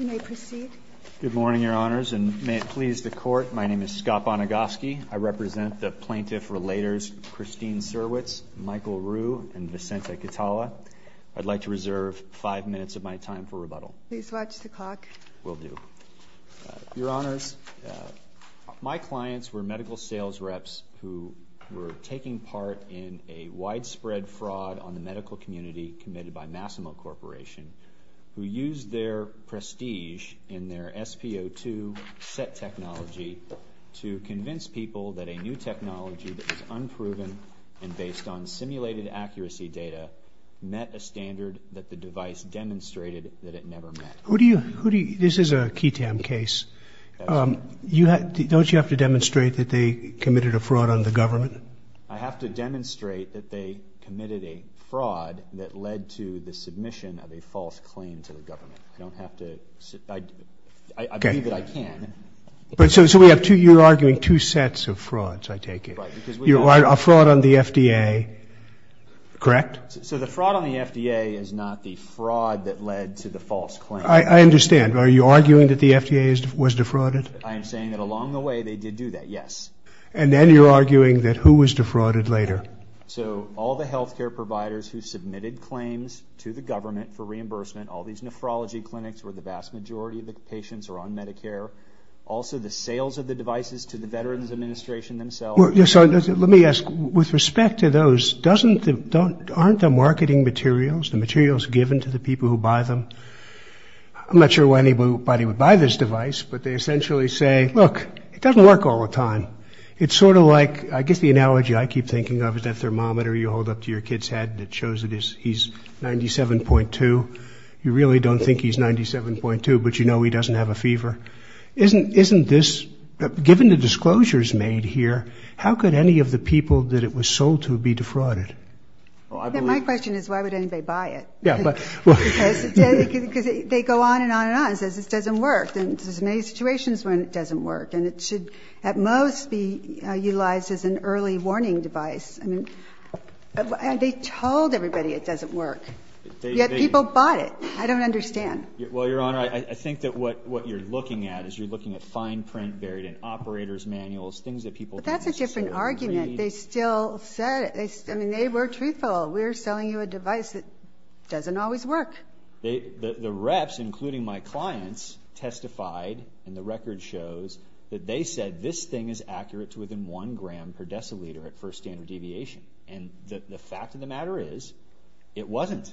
You may proceed. Good morning, Your Honors, and may it please the Court, my name is Scott Bonagoski. I represent the plaintiff-relators Christine Surwitz, Michael Ruhe, and Vicente Catala. I'd like to reserve five minutes of my time for rebuttal. Please watch the clock. Will do. Your Honors, my clients were medical sales reps who were taking part in a widespread fraud on the medical community committed by Masimo Corporation, who used their prestige in their SP02 set technology to convince people that a new technology that was unproven and based on simulated accuracy data met a standard that the device demonstrated that it never met. This is a KETAM case. Don't you have to demonstrate that they committed a fraud on the government? I have to demonstrate that they committed a fraud that led to the submission of a false claim to the government. I don't have to. I believe that I can. So you're arguing two sets of frauds, I take it. A fraud on the FDA, correct? So the fraud on the FDA is not the fraud that led to the false claim. I understand. Are you arguing that the FDA was defrauded? I am saying that along the way they did do that, yes. And then you're arguing that who was defrauded later? So all the health care providers who submitted claims to the government for reimbursement, all these nephrology clinics where the vast majority of the patients are on Medicare, also the sales of the devices to the Veterans Administration themselves. Let me ask, with respect to those, aren't the marketing materials, the materials given to the people who buy them, I'm not sure why anybody would buy this device, but they essentially say, look, it doesn't work all the time. It's sort of like, I guess the analogy I keep thinking of is that thermometer you hold up to your kid's head that shows that he's 97.2. You really don't think he's 97.2, but you know he doesn't have a fever. Given the disclosures made here, how could any of the people that it was sold to be defrauded? My question is, why would anybody buy it? Because they go on and on and on. It says this doesn't work. And there's many situations when it doesn't work. And it should, at most, be utilized as an early warning device. I mean, they told everybody it doesn't work. Yet people bought it. I don't understand. Well, Your Honor, I think that what you're looking at is you're looking at fine print buried in operators' manuals, things that people don't necessarily need. But that's a different argument. They still said it. I mean, they were truthful. We're selling you a device that doesn't always work. The reps, including my clients, testified, and the record shows, that they said this thing is accurate to within one gram per deciliter at first standard deviation. And the fact of the matter is, it wasn't.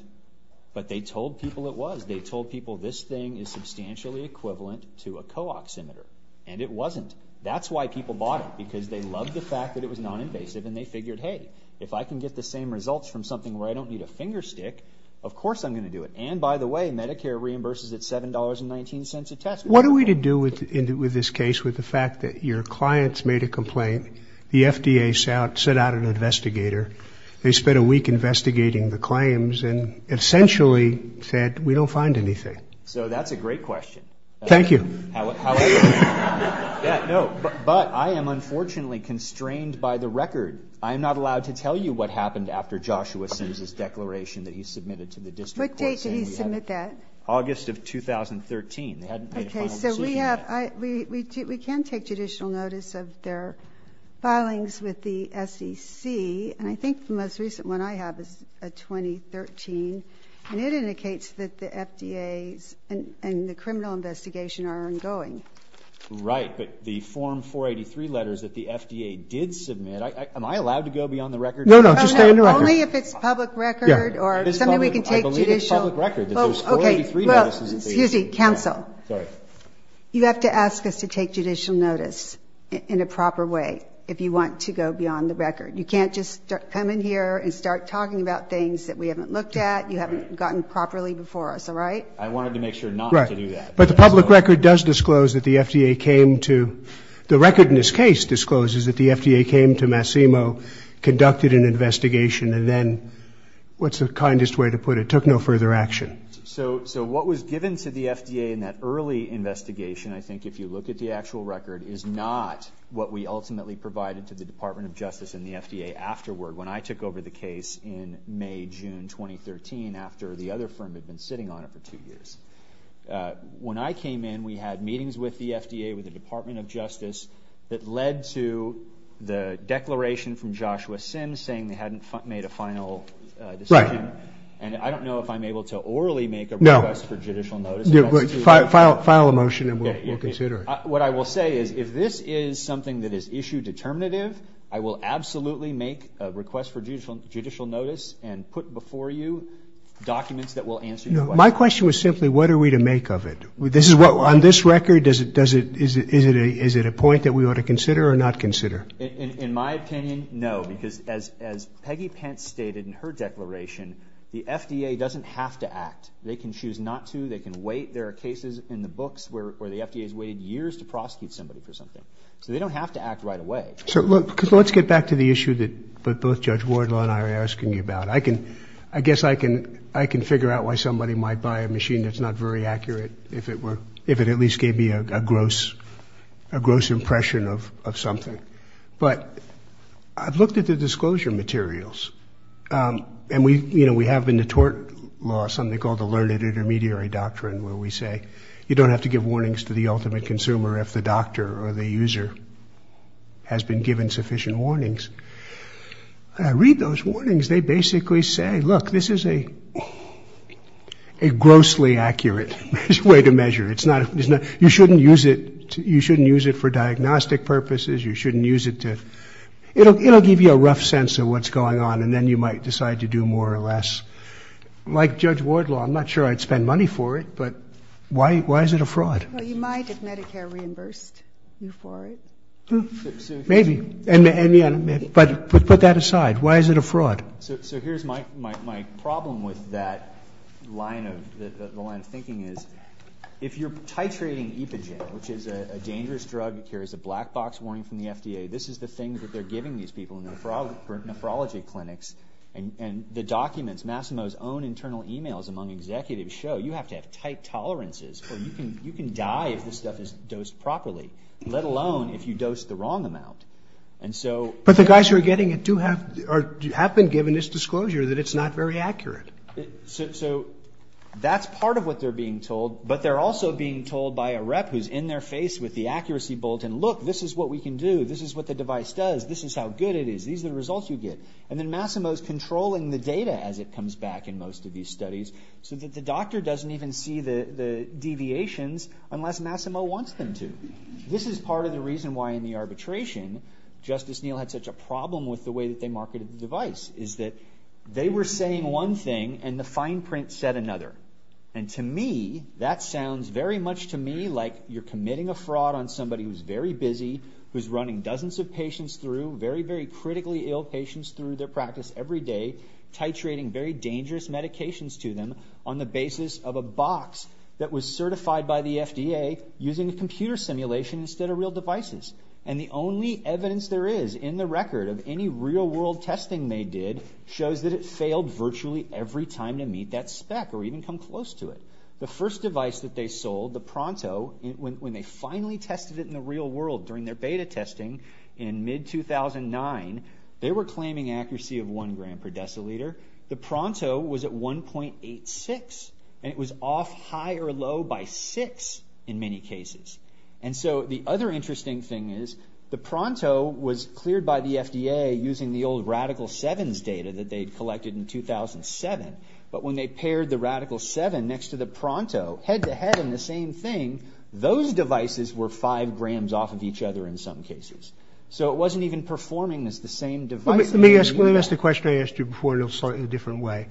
But they told people it was. They told people this thing is substantially equivalent to a co-oximeter. And it wasn't. That's why people bought it. Because they loved the fact that it was non-invasive. And they figured, hey, if I can get the same results from something where I don't need a finger stick, of course I'm gonna do it. And by the way, Medicare reimburses at $7.19 a test. What are we to do with this case with the fact that your clients made a complaint, the FDA sent out an investigator, they spent a week investigating the claims, and essentially said, we don't find anything. So that's a great question. Thank you. How are you? Yeah, no. But I am unfortunately constrained by the record. I am not allowed to tell you what happened after Joshua Sims's declaration that he submitted to the district court saying we had a- What date did he submit that? August of 2013. They hadn't made a final decision yet. Okay, so we have, we can take judicial notice of their filings with the SEC, and I think the most recent one I have is a 2013, and it indicates that the FDA's and the criminal investigation are ongoing. Right, but the Form 483 letters that the FDA did submit, am I allowed to go beyond the record? No, no, just stay on the record. Only if it's public record, or something we can take judicial- I believe it's public record, that there's 483 notices that they- Okay, well, excuse me, counsel. Sorry. You have to ask us to take judicial notice in a proper way if you want to go beyond the record. You can't just come in here and start talking about things that we haven't looked at, you haven't gotten properly before us, all right? I wanted to make sure not to do that. But the public record does disclose that the FDA came to, the record in this case discloses that the FDA came to Massimo, conducted an investigation, and then, what's the kindest way to put it, took no further action. So, what was given to the FDA in that early investigation, I think, if you look at the actual record, is not what we ultimately provided to the Department of Justice and the FDA afterward, when I took over the case in May, June, 2013, after the other firm had been sitting on it for two years. When I came in, we had meetings with the FDA, with the Department of Justice, that led to the declaration from Joshua Sim, saying they hadn't made a final decision, and I don't know if I'm able to orally make a request for judicial notice. No, file a motion and we'll consider it. What I will say is, if this is something that is issue determinative, I will absolutely make a request for judicial notice and put before you documents that will answer your question. My question was simply, what are we to make of it? On this record, is it a point that we ought to consider or not consider? In my opinion, no, because as Peggy Pence stated in her declaration, the FDA doesn't have to act. They can choose not to, they can wait. There are cases in the books where the FDA's waited years to prosecute somebody for something. So they don't have to act right away. So let's get back to the issue that both Judge Wardlaw and I are asking you about. I guess I can figure out why somebody might buy a machine that's not very accurate, if it at least gave me a gross impression of something. But I've looked at the disclosure materials and we have in the tort law something called the Learned Intermediary Doctrine where we say, you don't have to give warnings to the ultimate consumer if the doctor or the user has been given sufficient warnings. I read those warnings, they basically say, look, this is a grossly accurate way to measure. You shouldn't use it for diagnostic purposes. You shouldn't use it to, it'll give you a rough sense of what's going on and then you might decide to do more or less. Like Judge Wardlaw, I'm not sure I'd spend money for it, but why is it a fraud? Well, you might if Medicare reimbursed you for it. Maybe, but put that aside, why is it a fraud? So here's my problem with that line of thinking is, if you're titrating epigen, which is a dangerous drug, here is a black box warning from the FDA, this is the thing that they're giving these people in the nephrology clinics and the documents, Massimo's own internal emails among executives show, you have to have tight tolerances or you can die if this stuff is dosed properly, let alone if you dose the wrong amount. And so- But the guys who are getting it do have, or have been given this disclosure that it's not very accurate. So that's part of what they're being told, but they're also being told by a rep who's in their face with the accuracy bolt and look, this is what we can do, this is what the device does, this is how good it is, these are the results you get. And then Massimo's controlling the data as it comes back in most of these studies, so that the doctor doesn't even see the deviations unless Massimo wants them to. This is part of the reason why in the arbitration, Justice Neal had such a problem with the way that they marketed the device, is that they were saying one thing and the fine print said another. And to me, that sounds very much to me like you're committing a fraud on somebody who's very busy, who's running dozens of patients through, very, very critically ill patients through their practice every day, titrating very dangerous medications to them on the basis of a box that was certified by the FDA using a computer simulation instead of real devices. And the only evidence there is in the record of any real world testing they did shows that it failed virtually every time to meet that spec or even come close to it. The first device that they sold, the PRONTO, when they finally tested it in the real world during their beta testing in mid-2009, they were claiming accuracy of one gram per deciliter. The PRONTO was at 1.86, and it was off high or low by six in many cases. And so the other interesting thing is the PRONTO was cleared by the FDA using the old Radical 7's data that they'd collected in 2007, but when they paired the Radical 7 next to the PRONTO, head-to-head in the same thing, those devices were five grams off of each other in some cases. So it wasn't even performing as the same device. Let me ask the question I asked you before in a slightly different way.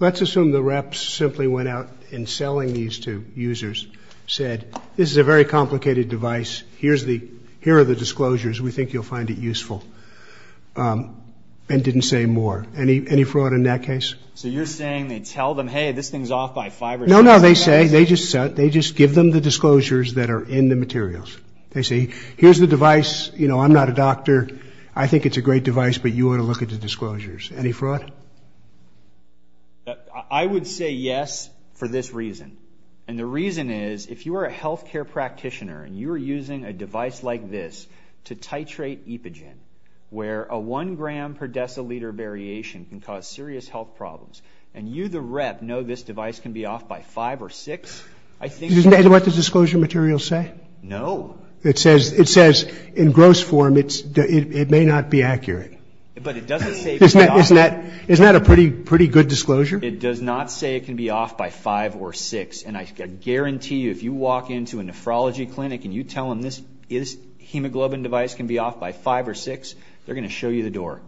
Let's assume the reps simply went out in selling these to users, said, this is a very complicated device, here are the disclosures, we think you'll find it useful, and didn't say more. Any fraud in that case? So you're saying they tell them, hey, this thing's off by five or six? No, no, they say, they just give them the disclosures that are in the materials. They say, here's the device, I'm not a doctor, I think it's a great device, but you ought to look at the disclosures. Any fraud? I would say yes for this reason. And the reason is, if you are a healthcare practitioner and you are using a device like this to titrate epigen, where a one gram per deciliter variation can cause serious health problems, and you, the rep, know this device can be off by five or six, I think- Isn't that what the disclosure materials say? No. It says, in gross form, it may not be accurate. But it doesn't say- Isn't that a pretty good disclosure? It does not say it can be off by five or six, and I guarantee you, if you walk into a nephrology clinic and you tell them this hemoglobin device can be off by five or six, they're going to show you the door.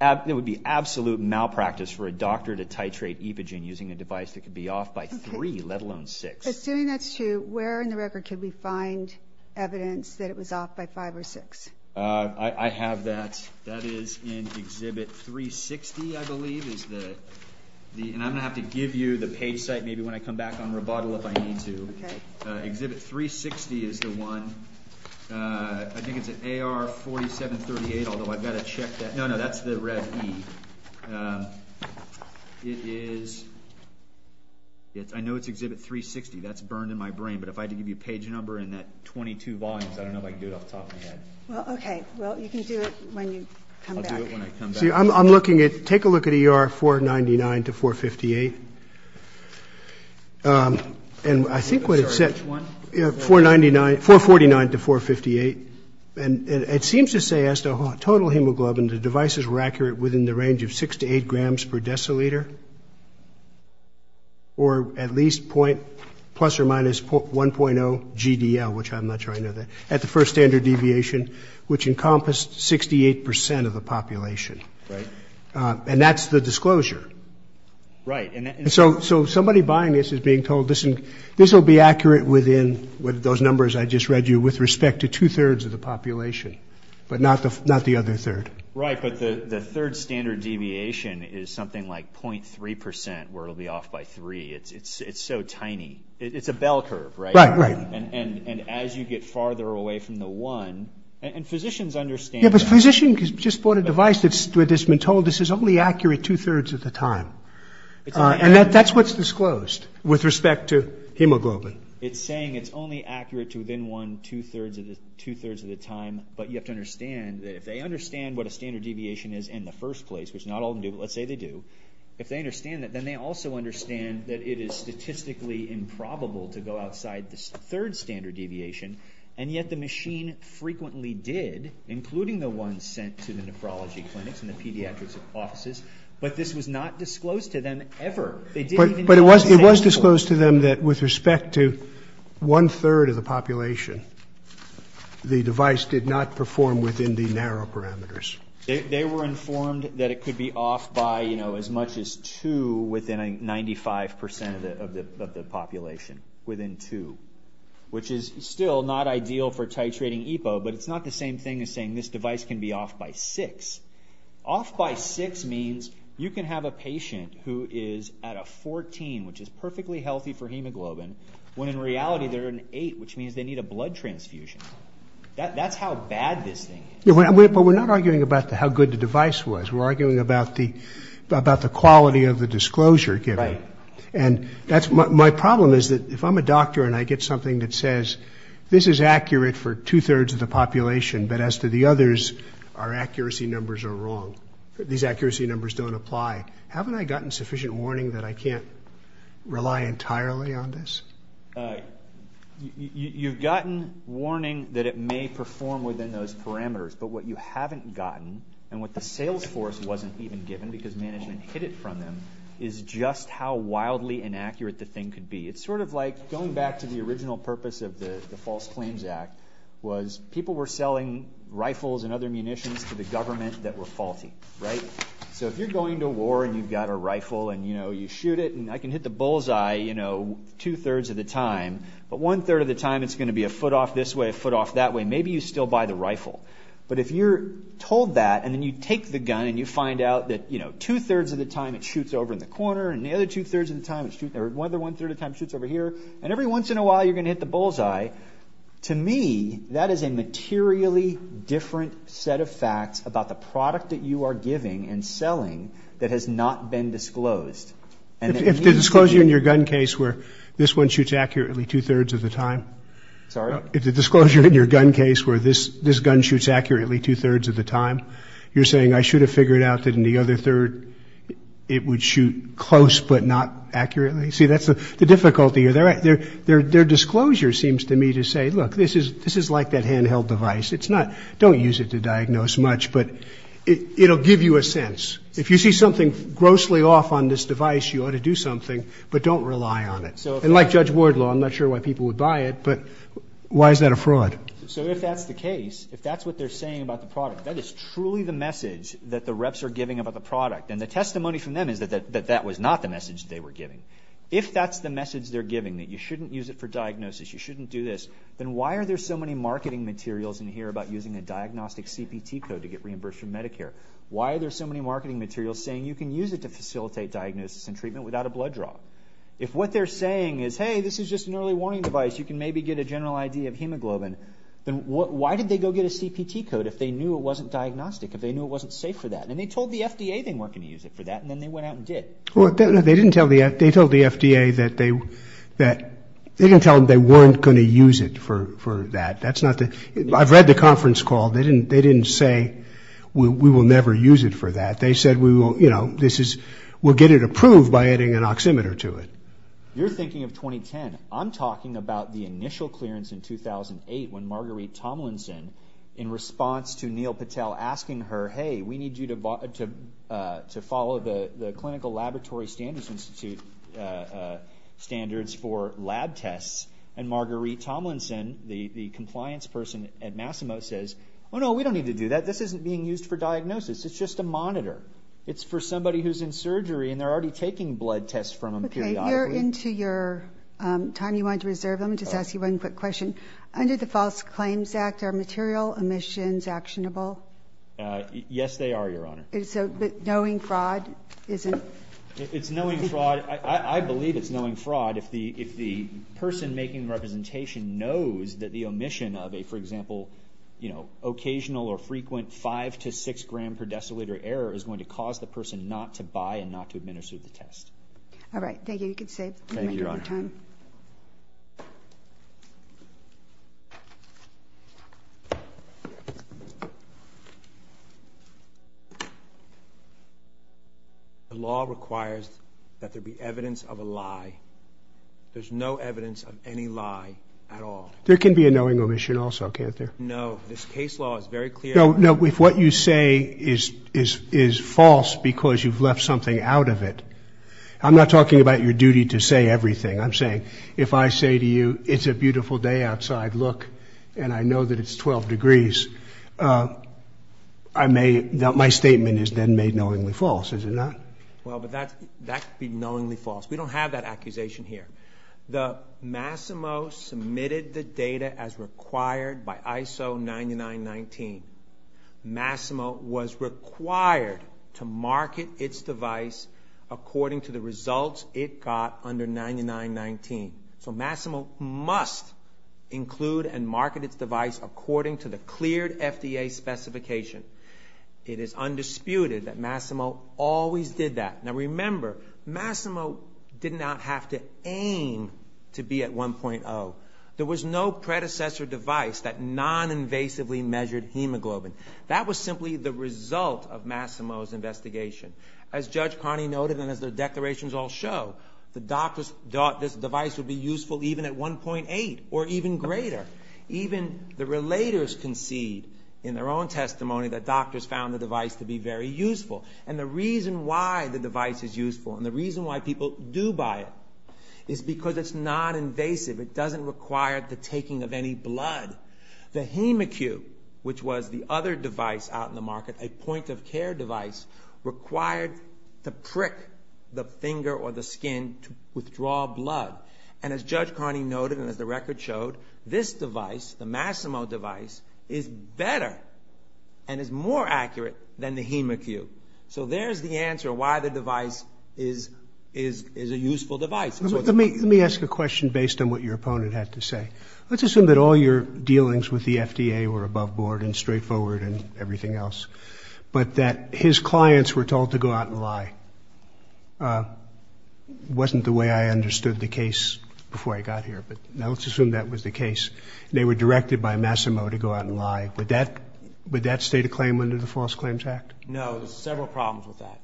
It would be absolute malpractice for a doctor to titrate epigen using a device that could be off by three, let alone six. Assuming that's true, where in the record could we find evidence that it was off by five or six? I have that. That is in exhibit 360, I believe, is the... And I'm going to have to give you the page site maybe when I come back on rebuttal if I need to. Exhibit 360 is the one. I think it's an AR4738, although I've got to check that. No, no, that's the Rev-E. I know it's exhibit 360. That's burned in my brain. But if I had to give you a page number and that 22 volumes, I don't know if I can do it off the top of my head. Well, okay. Well, you can do it when you come back. I'll do it when I come back. See, I'm looking at, take a look at ER 499 to 458. And I think what it said- Sorry, which one? 499, 449 to 458. And it seems to say as to total hemoglobin, the devices were accurate within the range of six to eight grams per deciliter, or at least plus or minus 1.0 GDL, which I'm not sure I know that, at the first standard deviation, which encompassed 68% of the population. Right. And that's the disclosure. Right. And so somebody buying this is being told, this will be accurate within, with those numbers I just read you, with respect to two-thirds of the population, but not the other third. Right, but the third standard deviation is something like 0.3%, where it'll be off by three. It's so tiny. It's a bell curve, right? Right, right. And as you get farther away from the one, and physicians understand- Yeah, but physician just bought a device that's been told this is only accurate two-thirds of the time. And that's what's disclosed, with respect to hemoglobin. It's saying it's only accurate to within one, two-thirds of the time, but you have to understand that if they understand what a standard deviation is in the first place, which not all of them do, but let's say they do, if they understand that, then they also understand that it is statistically improbable to go outside the third standard deviation, and yet the machine frequently did, including the ones sent to the nephrology clinics and the pediatrics offices, but this was not disclosed to them ever. They didn't even know- But it was disclosed to them that, with respect to one-third of the population, the device did not perform within the narrow parameters. They were informed that it could be off by, you know, as much as two within 95% of the population, within two, which is still not ideal for titrating EPO, but it's not the same thing as saying this device can be off by six. Off by six means you can have a patient who is at a 14, which is perfectly healthy for hemoglobin, when in reality they're at an eight, which means they need a blood transfusion. That's how bad this thing is. But we're not arguing about how good the device was. We're arguing about the quality of the disclosure given, and my problem is that, if I'm a doctor and I get something that says, this is accurate for two-thirds of the population, but as to the others, our accuracy numbers are wrong. These accuracy numbers don't apply. Haven't I gotten sufficient warning that I can't rely entirely on this? You've gotten warning that it may perform within those parameters, but what you haven't gotten, and what the sales force wasn't even given, because management hid it from them, is just how wildly inaccurate the thing could be. It's sort of like going back to the original purpose of the False Claims Act was, people were selling rifles and other munitions to the government that were faulty, right? So if you're going to war and you've got a rifle and you shoot it, and I can hit the bullseye two-thirds of the time, but one-third of the time it's gonna be a foot off this way, a foot off that way, maybe you still buy the rifle. But if you're told that, and then you take the gun and you find out that two-thirds of the time it shoots over in the corner, and the other two-thirds of the time it shoots, or one-third of the time it shoots over here, and every once in a while you're gonna hit the bullseye, to me, that is a materially different set of facts about the product that you are giving and selling that has not been disclosed. And it means that- If the disclosure in your gun case where this one shoots accurately two-thirds of the time. Sorry? If the disclosure in your gun case where this gun shoots accurately two-thirds of the time, you're saying I should have figured out that in the other third it would shoot close but not accurately? See, that's the difficulty. Their disclosure seems to me to say, look, this is like that handheld device. Don't use it to diagnose much, but it'll give you a sense. If you see something grossly off on this device, you ought to do something, but don't rely on it. And like Judge Wardlaw, I'm not sure why people would buy it, but why is that a fraud? So if that's the case, if that's what they're saying about the product, that is truly the message that the reps are giving about the product. And the testimony from them is that that was not the message they were giving. If that's the message they're giving, that you shouldn't use it for diagnosis, you shouldn't do this, then why are there so many marketing materials in here about using a diagnostic CPT code to get reimbursed from Medicare? Why are there so many marketing materials saying you can use it to facilitate diagnosis and treatment without a blood draw? If what they're saying is, hey, this is just an early warning device, you can maybe get a general idea of hemoglobin, then why did they go get a CPT code if they knew it wasn't diagnostic, if they knew it wasn't safe for that? And they told the FDA they weren't gonna use it for that, and then they went out and did. Well, they didn't tell the, they told the FDA that they, that they didn't tell them they weren't gonna use it for that. I've read the conference call. They didn't say, we will never use it for that. They said, we'll get it approved by adding an oximeter to it. You're thinking of 2010. I'm talking about the initial clearance in 2008 when Marguerite Tomlinson, in response to Neil Patel asking her, hey, we need you to follow the Clinical Laboratory Standards Institute standards for lab tests, and Marguerite Tomlinson, the compliance person at Massimo says, oh no, we don't need to do that. This isn't being used for diagnosis. It's just a monitor. It's for somebody who's in surgery, and they're already taking blood tests from them periodically. Okay, we're into your time you wanted to reserve. Let me just ask you one quick question. Under the False Claims Act, are material omissions actionable? Yes, they are, Your Honor. So, but knowing fraud isn't? It's knowing fraud. I believe it's knowing fraud. If the person making the representation knows that the omission of a, for example, you know, occasional or frequent five to six gram per deciliter error is going to cause the person not to buy and not to administer the test. All right, thank you. You can save your time. The law requires that there be evidence of a lie. There's no evidence of any lie at all. There can be a knowing omission also, can't there? No, this case law is very clear. No, no, if what you say is false because you've left something out of it, I'm not talking about your duty to say everything. I'm saying, if I say to you, it's a beautiful day outside, look, and I know that it's 12 degrees, I may, my statement is then made knowingly false, is it not? Well, but that could be knowingly false. We don't have that accusation here. The Massimo submitted the data as required by ISO 9919. Massimo was required to market its device according to the results it got under 9919. So Massimo must include and market its device according to the cleared FDA specification. It is undisputed that Massimo always did that. Now remember, Massimo did not have to aim to be at 1.0. There was no predecessor device that non-invasively measured hemoglobin. That was simply the result of Massimo's investigation. As Judge Carney noted, and as the declarations all show, the doctors thought this device would be useful even at 1.8 or even greater. Even the relators concede in their own testimony that doctors found the device to be very useful. And the reason why the device is useful and the reason why people do buy it is because it's non-invasive. It doesn't require the taking of any blood. The Hemacube, which was the other device out in the market, a point of care device, required to prick the finger or the skin to withdraw blood. And as Judge Carney noted and as the record showed, this device, the Massimo device, is better and is more accurate than the Hemacube. So there's the answer why the device is a useful device. Let me ask a question based on what your opponent had to say. Let's assume that all your dealings with the FDA were above board and straightforward and everything else, but that his clients were told to go out and lie. Wasn't the way I understood the case before I got here, but now let's assume that was the case. They were directed by Massimo to go out and lie. Would that state a claim under the False Claims Act? No, there's several problems with that.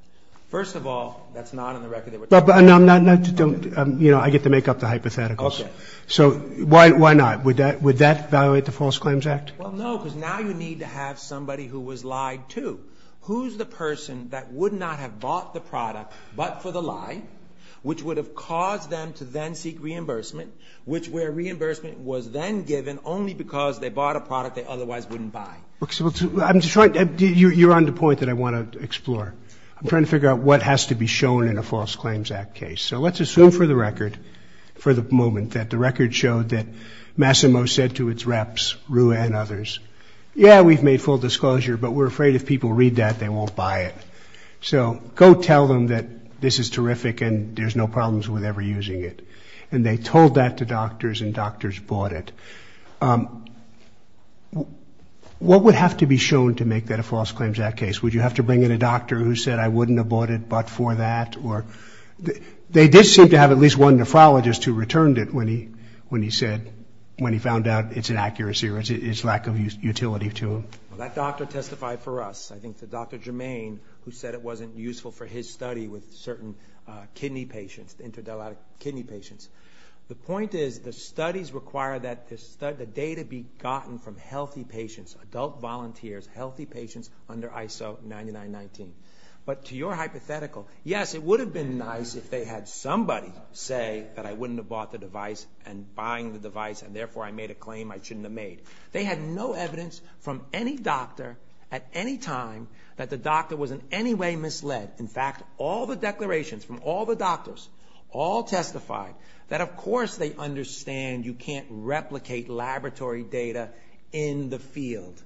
First of all, that's not on the record that we're talking about. No, I get to make up the hypotheticals. So why not? Would that evaluate the False Claims Act? Well, no, because now you need to have somebody who was lied to. Who's the person that would not have bought the product, but for the lie, which would have caused them to then seek reimbursement, which where reimbursement was then given only because they bought a product they otherwise wouldn't buy. You're on the point that I want to explore. I'm trying to figure out what has to be shown in a False Claims Act case. So let's assume for the record, for the moment, that the record showed that Massimo said to its reps, Rua and others, yeah, we've made full disclosure, but we're afraid if people read that, they won't buy it. So go tell them that this is terrific and there's no problems with ever using it. And they told that to doctors and doctors bought it. What would have to be shown to make that a False Claims Act case? Would you have to bring in a doctor who said, I wouldn't have bought it, but for that, or they did seem to have at least one nephrologist who returned it when he said, when he found out it's an accuracy or it's lack of utility to him. That doctor testified for us. I think the Dr. Germain, who said it wasn't useful for his study with certain kidney patients, interdelatic kidney patients. The point is the studies require that the data be gotten from healthy patients, adult volunteers, healthy patients under ISO 9919. But to your hypothetical, yes, it would have been nice if they had somebody say that I wouldn't have bought the device and buying the device. And therefore I made a claim I shouldn't have made. They had no evidence from any doctor at any time that the doctor was in any way misled. In fact, all the declarations from all the doctors all testified that of course they understand you can't replicate laboratory data in the field.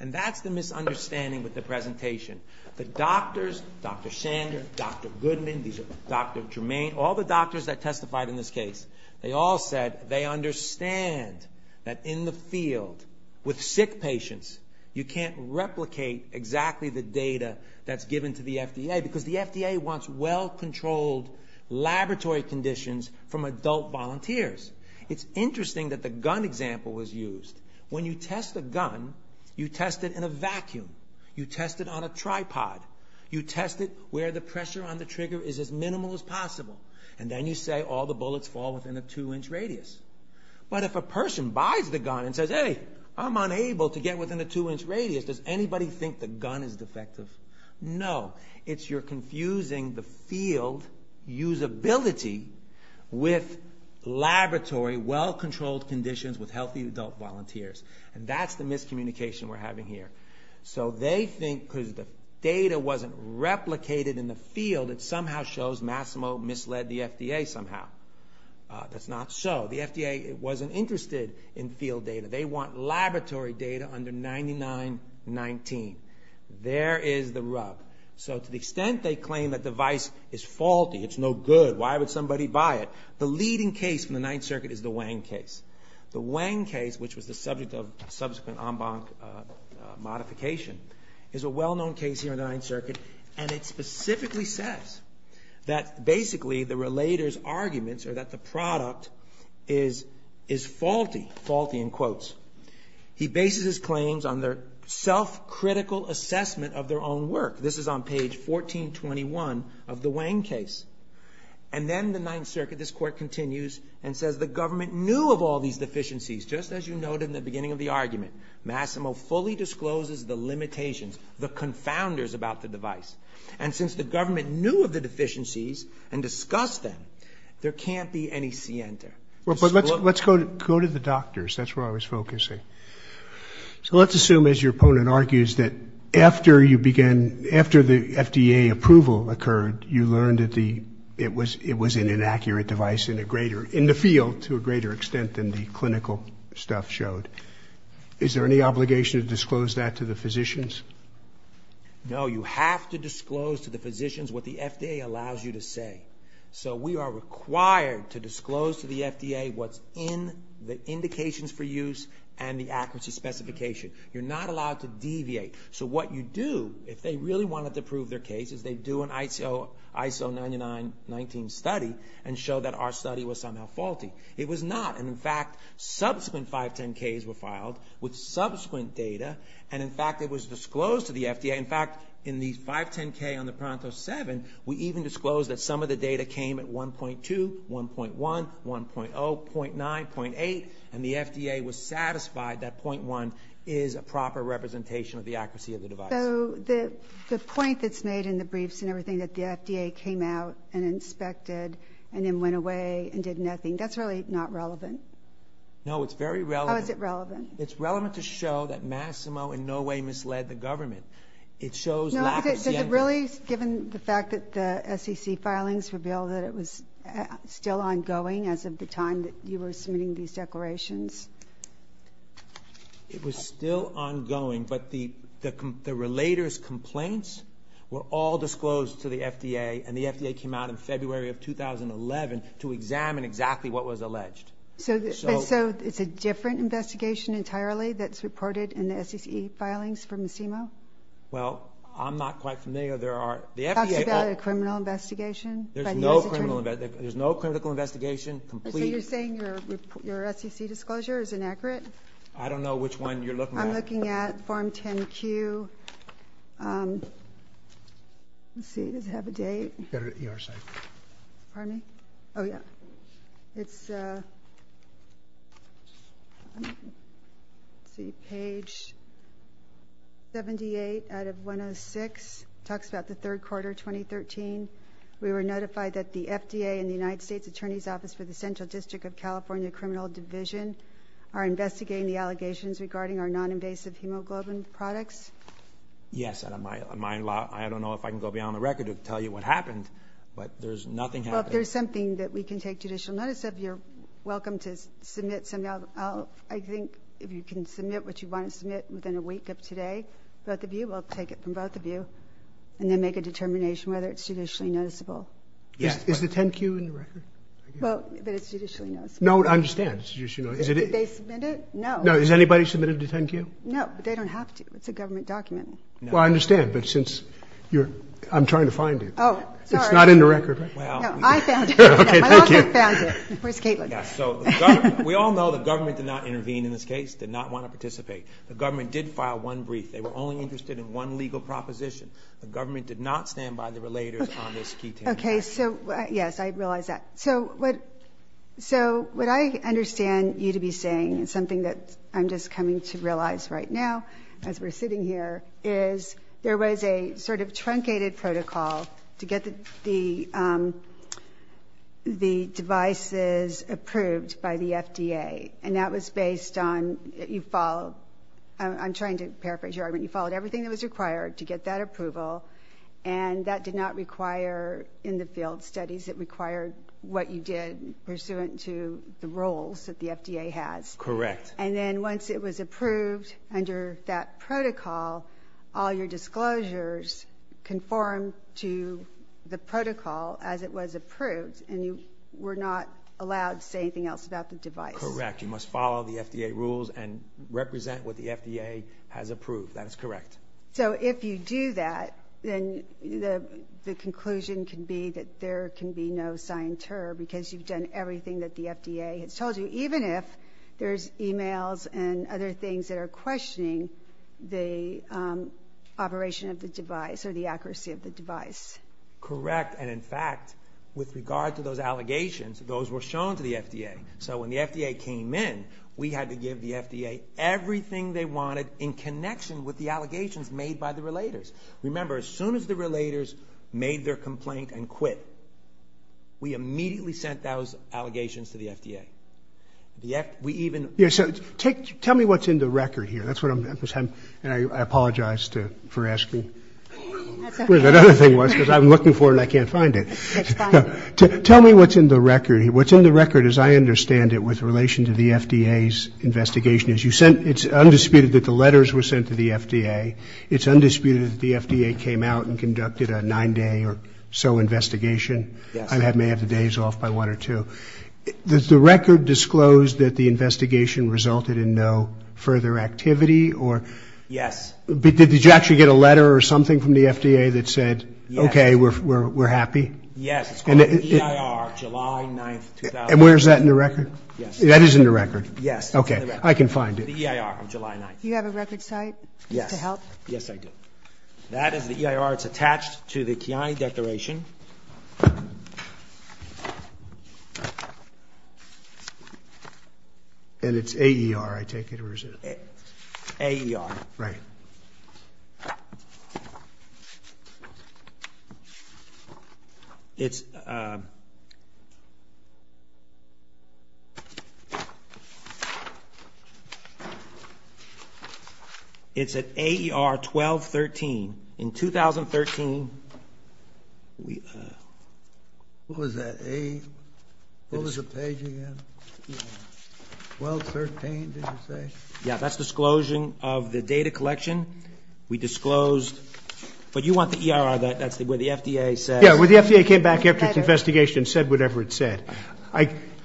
And that's the misunderstanding with the presentation. The doctors, Dr. Sander, Dr. Goodman, Dr. Germain, all the doctors that testified in this case, they all said they understand that in the field with sick patients, you can't replicate exactly the data that's given to the FDA because the FDA wants well-controlled laboratory conditions from adult volunteers. It's interesting that the gun example was used. When you test a gun, you test it in a vacuum. You test it on a tripod. You test it where the pressure on the trigger is as minimal as possible. And then you say all the bullets fall within a two-inch radius. But if a person buys the gun and says, hey, I'm unable to get within a two-inch radius, does anybody think the gun is defective? No. It's you're confusing the field usability with laboratory well-controlled conditions with healthy adult volunteers. And that's the miscommunication we're having here. So they think because the data wasn't replicated in the field, it somehow shows Massimo misled the FDA somehow. That's not so. The FDA wasn't interested in field data. They want laboratory data under 99-19. There is the rub. So to the extent they claim that device is faulty, it's no good, why would somebody buy it? The leading case from the Ninth Circuit is the Wang case. The Wang case, which was the subject of subsequent en banc modification, is a well-known case here in the Ninth Circuit. And it specifically says that basically the relator's arguments are that the product is faulty. Faulty in quotes. He bases his claims on their self-critical assessment of their own work. This is on page 1421 of the Wang case. And then the Ninth Circuit, this court continues, and says the government knew of all these deficiencies. Just as you noted in the beginning of the argument, Massimo fully discloses the limitations, the confounders about the device. And since the government knew of the deficiencies and discussed them, there can't be any scienter. Well, but let's go to the doctors. That's where I was focusing. So let's assume as your opponent argues that after the FDA approval occurred, you learned that it was an inaccurate device in the field to a greater extent than the clinical stuff showed. Is there any obligation to disclose that to the physicians? No, you have to disclose to the physicians what the FDA allows you to say. So we are required to disclose to the FDA what's in the indications for use and the accuracy specification. You're not allowed to deviate. So what you do, if they really wanted to prove their case, is they do an ISO 9919 study and show that our study was somehow faulty. It was not. And in fact, subsequent 510Ks were filed with subsequent data. And in fact, it was disclosed to the FDA. In fact, in the 510K on the PRONTO 7, we even disclosed that some of the data came at 1.2, 1.1, 1.0, .9, .8, and the FDA was satisfied that .1 is a proper representation of the accuracy of the device. So the point that's made in the briefs and everything that the FDA came out and inspected and then went away and did nothing, that's really not relevant? No, it's very relevant. How is it relevant? It's relevant to show that Massimo in no way misled the government. It shows lack of... Is it really given the fact that the SEC filings reveal that it was still ongoing as of the time that you were submitting these declarations? It was still ongoing, but the relator's complaints were all disclosed to the FDA and the FDA came out in February of 2011 to examine exactly what was alleged. So it's a different investigation entirely that's reported in the SEC filings from Massimo? Well, I'm not quite familiar. There are, the FDA... Talks about a criminal investigation. There's no criminal investigation. There's no criminal investigation, complete... So you're saying your SEC disclosure is inaccurate? I don't know which one you're looking at. I'm looking at Form 10-Q. Let's see, does it have a date? You've got it at your site. Pardon me? Oh, yeah. It's... Let's see, page 78 out of 106. Talks about the third quarter, 2013. We were notified that the FDA and the United States Attorney's Office for the Central District of California Criminal Division are investigating the allegations regarding our non-invasive hemoglobin products. Yes, and I don't know if I can go beyond the record to tell you what happened, but there's nothing happening. Well, if there's something that we can take judicial notice of, you're welcome to submit some... I think if you can submit what you want to submit within a week of today, both of you, we'll take it from both of you, and then make a determination whether it's judicially noticeable. Yes. Is the 10-Q in the record? Well, but it's judicially noticeable. No, I understand, it's judicially noticeable. Did they submit it? No. No, has anybody submitted it to 10-Q? No, but they don't have to. It's a government document. Well, I understand, but since you're... I'm trying to find it. Oh, sorry. It's not in the record, right? Well... No, I found it. Okay, thank you. I also found it. Where's Caitlin? Yeah, so we all know the government did not intervene in this case, did not want to participate. The government did file one brief. They were only interested in one legal proposition. The government did not stand by the relators on this key 10-Q. Okay, so yes, I realize that. So what I understand you to be saying, it's something that I'm just coming to realize right now as we're sitting here, is there was a sort of truncated protocol to get the devices approved by the FDA. And that was based on, you followed... I'm trying to paraphrase your argument. You followed everything that was required to get that approval. And that did not require in the field studies. It required what you did pursuant to the roles that the FDA has. Correct. And then once it was approved under that protocol, all your disclosures conform to the protocol as it was approved. And you were not allowed to say anything else about the device. Correct. You must follow the FDA rules and represent what the FDA has approved. That is correct. So if you do that, then the conclusion can be that there can be no sign ter because you've done everything that the FDA has told you. Even if there's emails and other things that are questioning the operation of the device or the accuracy of the device. Correct. And in fact, with regard to those allegations, those were shown to the FDA. So when the FDA came in, we had to give the FDA everything they wanted in connection with the allegations made by the relators. Remember, as soon as the relators made their complaint and quit, we immediately sent those allegations to the FDA. We even... Tell me what's in the record here. That's what I'm... And I apologize for asking where that other thing was because I'm looking for it and I can't find it. Tell me what's in the record. What's in the record, as I understand it, with relation to the FDA's investigation, is you sent... It's undisputed that the letters were sent to the FDA. It's undisputed that the FDA came out and conducted a nine-day or so investigation. I may have the days off by one or two. Does the record disclose that the investigation resulted in no further activity or... Yes. Did you actually get a letter or something from the FDA that said, okay, we're happy? Yes, it's called the EIR, July 9th, 2003. And where's that in the record? Yes. That is in the record? Yes, it's in the record. Okay, I can find it. The EIR of July 9th. Do you have a record site to help? Yes, I do. That is the EIR. It's attached to the Kiani Declaration. And it's AER, I take it, or is it... AER. Right. It's... It's at AER 1213. In 2013, we, what was that, A... What was the page again? 1213, did you say? Yeah, that's disclosure of the data collection. We disclosed, but you want the EIR, that's where the FDA said... Yeah, where the FDA came back after the investigation and said whatever it said.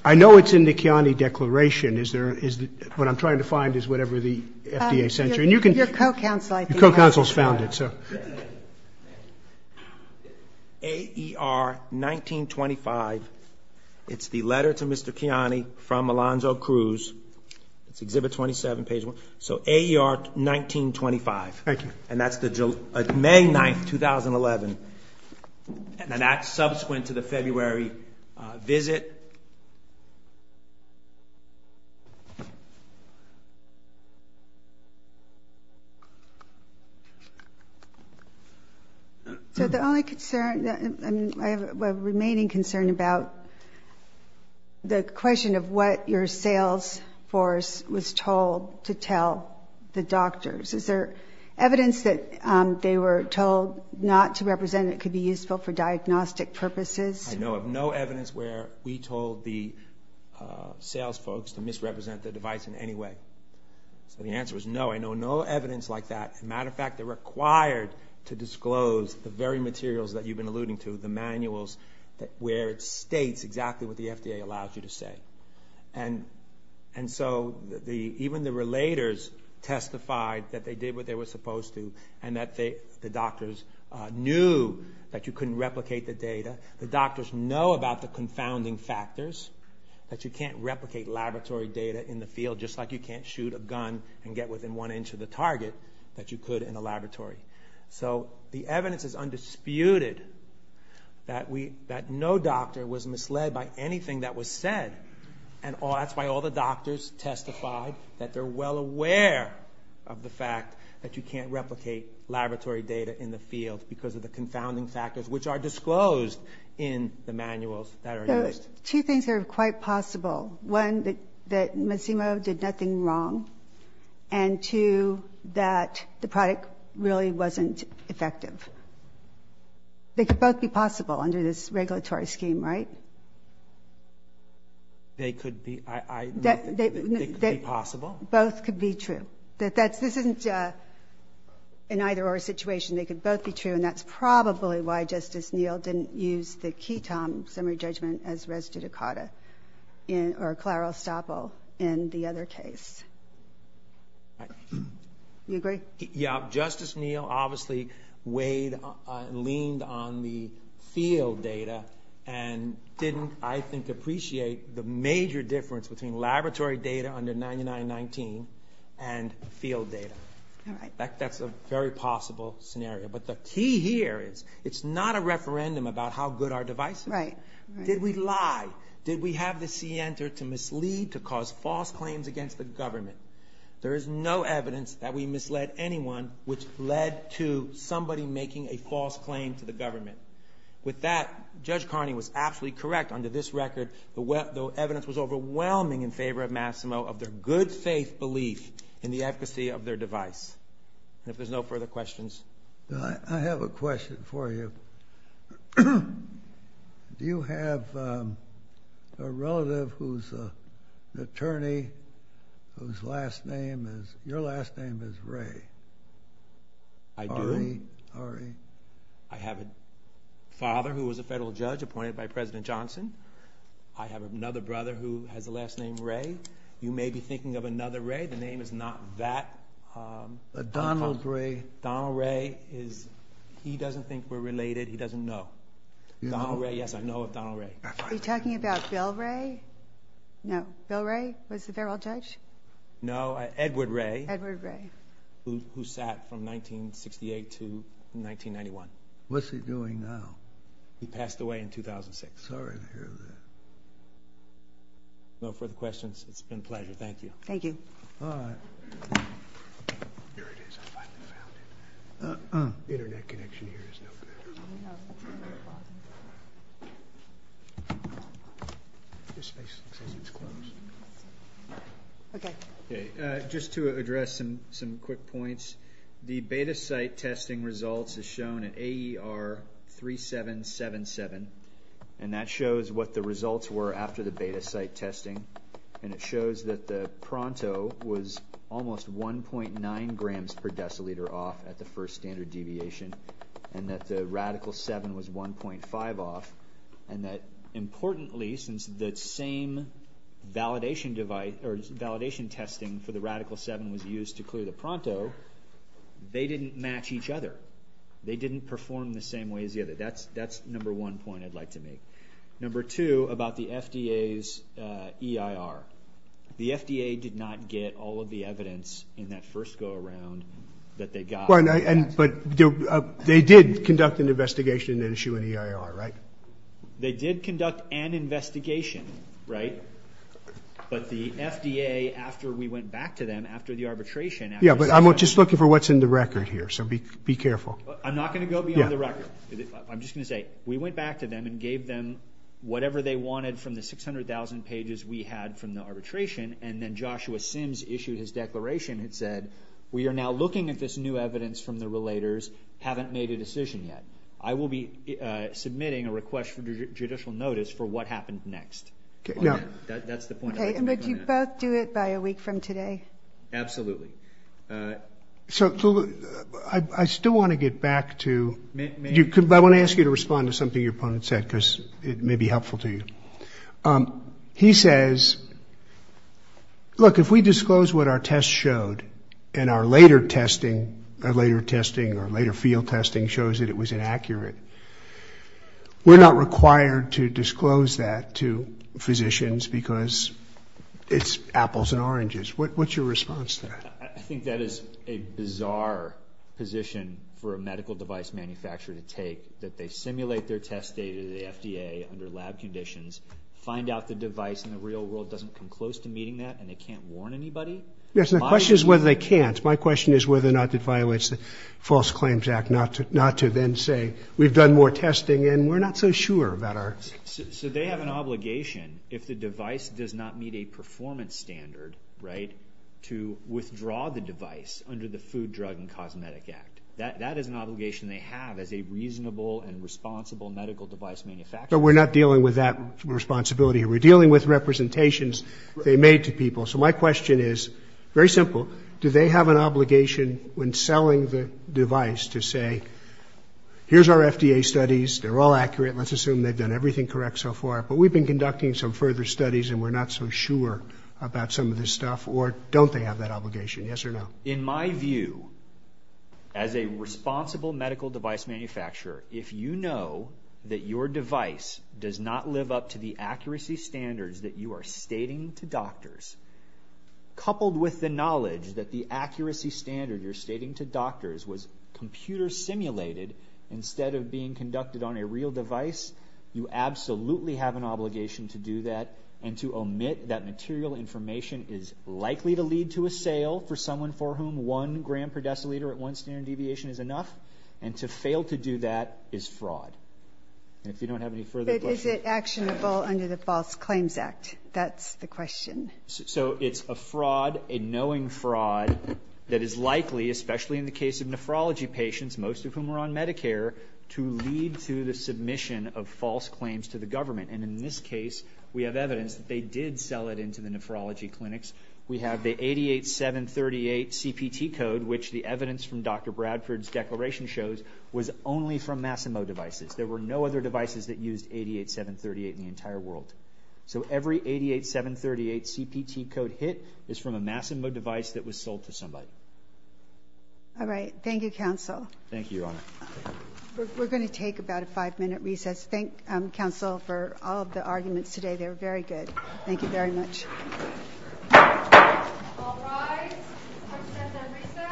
I know it's in the Kiani Declaration. Is there, what I'm trying to find is whatever the FDA sent you. And you can... Your co-counsel, I think... Your co-counsel's found it, so. AER 1925. It's the letter to Mr. Kiani from Alonzo Cruz. It's Exhibit 27, page one. So AER 1925. Thank you. And that's May 9th, 2011. And then that's subsequent to the February visit. So the only concern, I have a remaining concern about the question of what your sales force was told to tell the doctors. Is there evidence that they were told not to represent it could be useful for diagnostic purposes? I know of no evidence where we told the sales folks to misrepresent the device in any way. So the answer was no. I know no evidence like that. Matter of fact, they're required to disclose the very materials that you've been alluding to, the manuals where it states exactly what the FDA allows you to say. And so even the relators testified that they did what they were supposed to and that the doctors knew that you couldn't replicate the data. The doctors know about the confounding factors that you can't replicate laboratory data in the field just like you can't shoot a gun and get within one inch of the target that you could in a laboratory. So the evidence is undisputed that no doctor was misled by anything that was said. And that's why all the doctors testified that they're well aware of the fact that you can't replicate laboratory data in the field because of the confounding factors which are disclosed in the manuals that are used. Two things are quite possible. One, that Macimo did nothing wrong. And two, that the product really wasn't effective. They could both be possible under this regulatory scheme, right? They could be, I, they could be possible. Both could be true. That that's, this isn't an either or situation. They could both be true. And that's probably why Justice Neal didn't use the Ketom summary judgment as res dudicata or clarostopil in the other case. Right. You agree? Yeah, Justice Neal obviously weighed, leaned on the field data and didn't, I think, appreciate the major difference between laboratory data under 9919 and field data. All right. That's a very possible scenario. But the key here is it's not a referendum about how good our device is. Right, right. Did we lie? Did we have the scienter to mislead to cause false claims against the government? There is no evidence that we misled anyone which led to somebody making a false claim to the government. With that, Judge Carney was absolutely correct under this record, the evidence was overwhelming in favor of Massimo of their good faith belief in the efficacy of their device. If there's no further questions. I have a question for you. Do you have a relative who's an attorney whose last name is, your last name is Ray? I do. R-E, R-E. I have a father who was a federal judge appointed by President Johnson. I have another brother who has a last name Ray. You may be thinking of another Ray. The name is not that. A Donald Ray. Donald Ray is, he doesn't think we're related. He doesn't know. Donald Ray, yes, I know of Donald Ray. Are you talking about Bill Ray? No, Bill Ray was the federal judge? No, Edward Ray. Edward Ray. Who sat from 1968 to 1991. What's he doing now? He passed away in 2006. Sorry to hear that. No further questions, it's been a pleasure. Thank you. Thank you. All right. Here it is, I finally found it. Internet connection here is no good. I know. This space looks as if it's closed. Okay. Okay, just to address some quick points. The beta site testing results is shown at AER 3777. And that shows what the results were after the beta site testing. And it shows that the Pronto was almost 1.9 grams per deciliter off at the first standard deviation. And that the Radical 7 was 1.5 off. And that importantly, since the same validation device, or validation testing for the Radical 7 was used to clear the Pronto, they didn't match each other. They didn't perform the same way as the other. That's number one point I'd like to make. Number two, about the FDA's EIR. The FDA did not get all of the evidence in that first go around that they got. But they did conduct an investigation and issue an EIR, right? They did conduct an investigation, right? But the FDA, after we went back to them, after the arbitration, after the session. Yeah, but I'm just looking for what's in the record here. So be careful. I'm not gonna go beyond the record. I'm just gonna say, we went back to them and gave them whatever they wanted from the 600,000 pages we had from the arbitration. And then Joshua Sims issued his declaration. It said, we are now looking at this new evidence from the relators, haven't made a decision yet. I will be submitting a request for judicial notice for what happened next. Okay, now. That's the point I'd like to make on that. Okay, and would you both do it by a week from today? Absolutely. So, I still wanna get back to, I wanna ask you to respond to something your opponent said, because it may be helpful to you. He says, look, if we disclose what our tests showed and our later testing, our later testing or later field testing shows that it was inaccurate, we're not required to disclose that to physicians because it's apples and oranges. What's your response to that? I think that is a bizarre position for a medical device manufacturer to take, that they simulate their test data to the FDA under lab conditions, find out the device in the real world doesn't come close to meeting that and they can't warn anybody. Yes, and the question is whether they can't. My question is whether or not it violates the False Claims Act not to then say, we've done more testing and we're not so sure about our. So they have an obligation, if the device does not meet a performance standard, right, to withdraw the device under the Food, Drug and Cosmetic Act. That is an obligation they have as a reasonable and responsible medical device manufacturer. But we're not dealing with that responsibility. We're dealing with representations they made to people. So my question is very simple. Do they have an obligation when selling the device to say, here's our FDA studies, they're all accurate, let's assume they've done everything correct so far, but we've been conducting some further studies and we're not so sure about some of this stuff or don't they have that obligation, yes or no? In my view, as a responsible medical device manufacturer, if you know that your device does not live up to the accuracy standards that you are stating to doctors, coupled with the knowledge that the accuracy standard you're stating to doctors was computer simulated instead of being conducted on a real device, you absolutely have an obligation to do that and to omit that material information is likely to lead to a sale for someone for whom one gram per deciliter at one standard deviation is enough and to fail to do that is fraud. And if you don't have any further questions. But is it actionable under the False Claims Act? That's the question. So it's a fraud, a knowing fraud that is likely, especially in the case of nephrology patients, most of whom are on Medicare, to lead to the submission of false claims to the government and in this case, we have evidence that they did sell it into the nephrology clinics. We have the 88-738 CPT code, which the evidence from Dr. Bradford's declaration shows was only from Massimo devices. There were no other devices that used 88-738 in the entire world. So every 88-738 CPT code hit is from a Massimo device that was sold to somebody. All right, thank you, counsel. Thank you, Your Honor. We're gonna take about a five minute recess. Thank counsel for all of the arguments today. They were very good. Thank you very much. All right, we'll start the recess.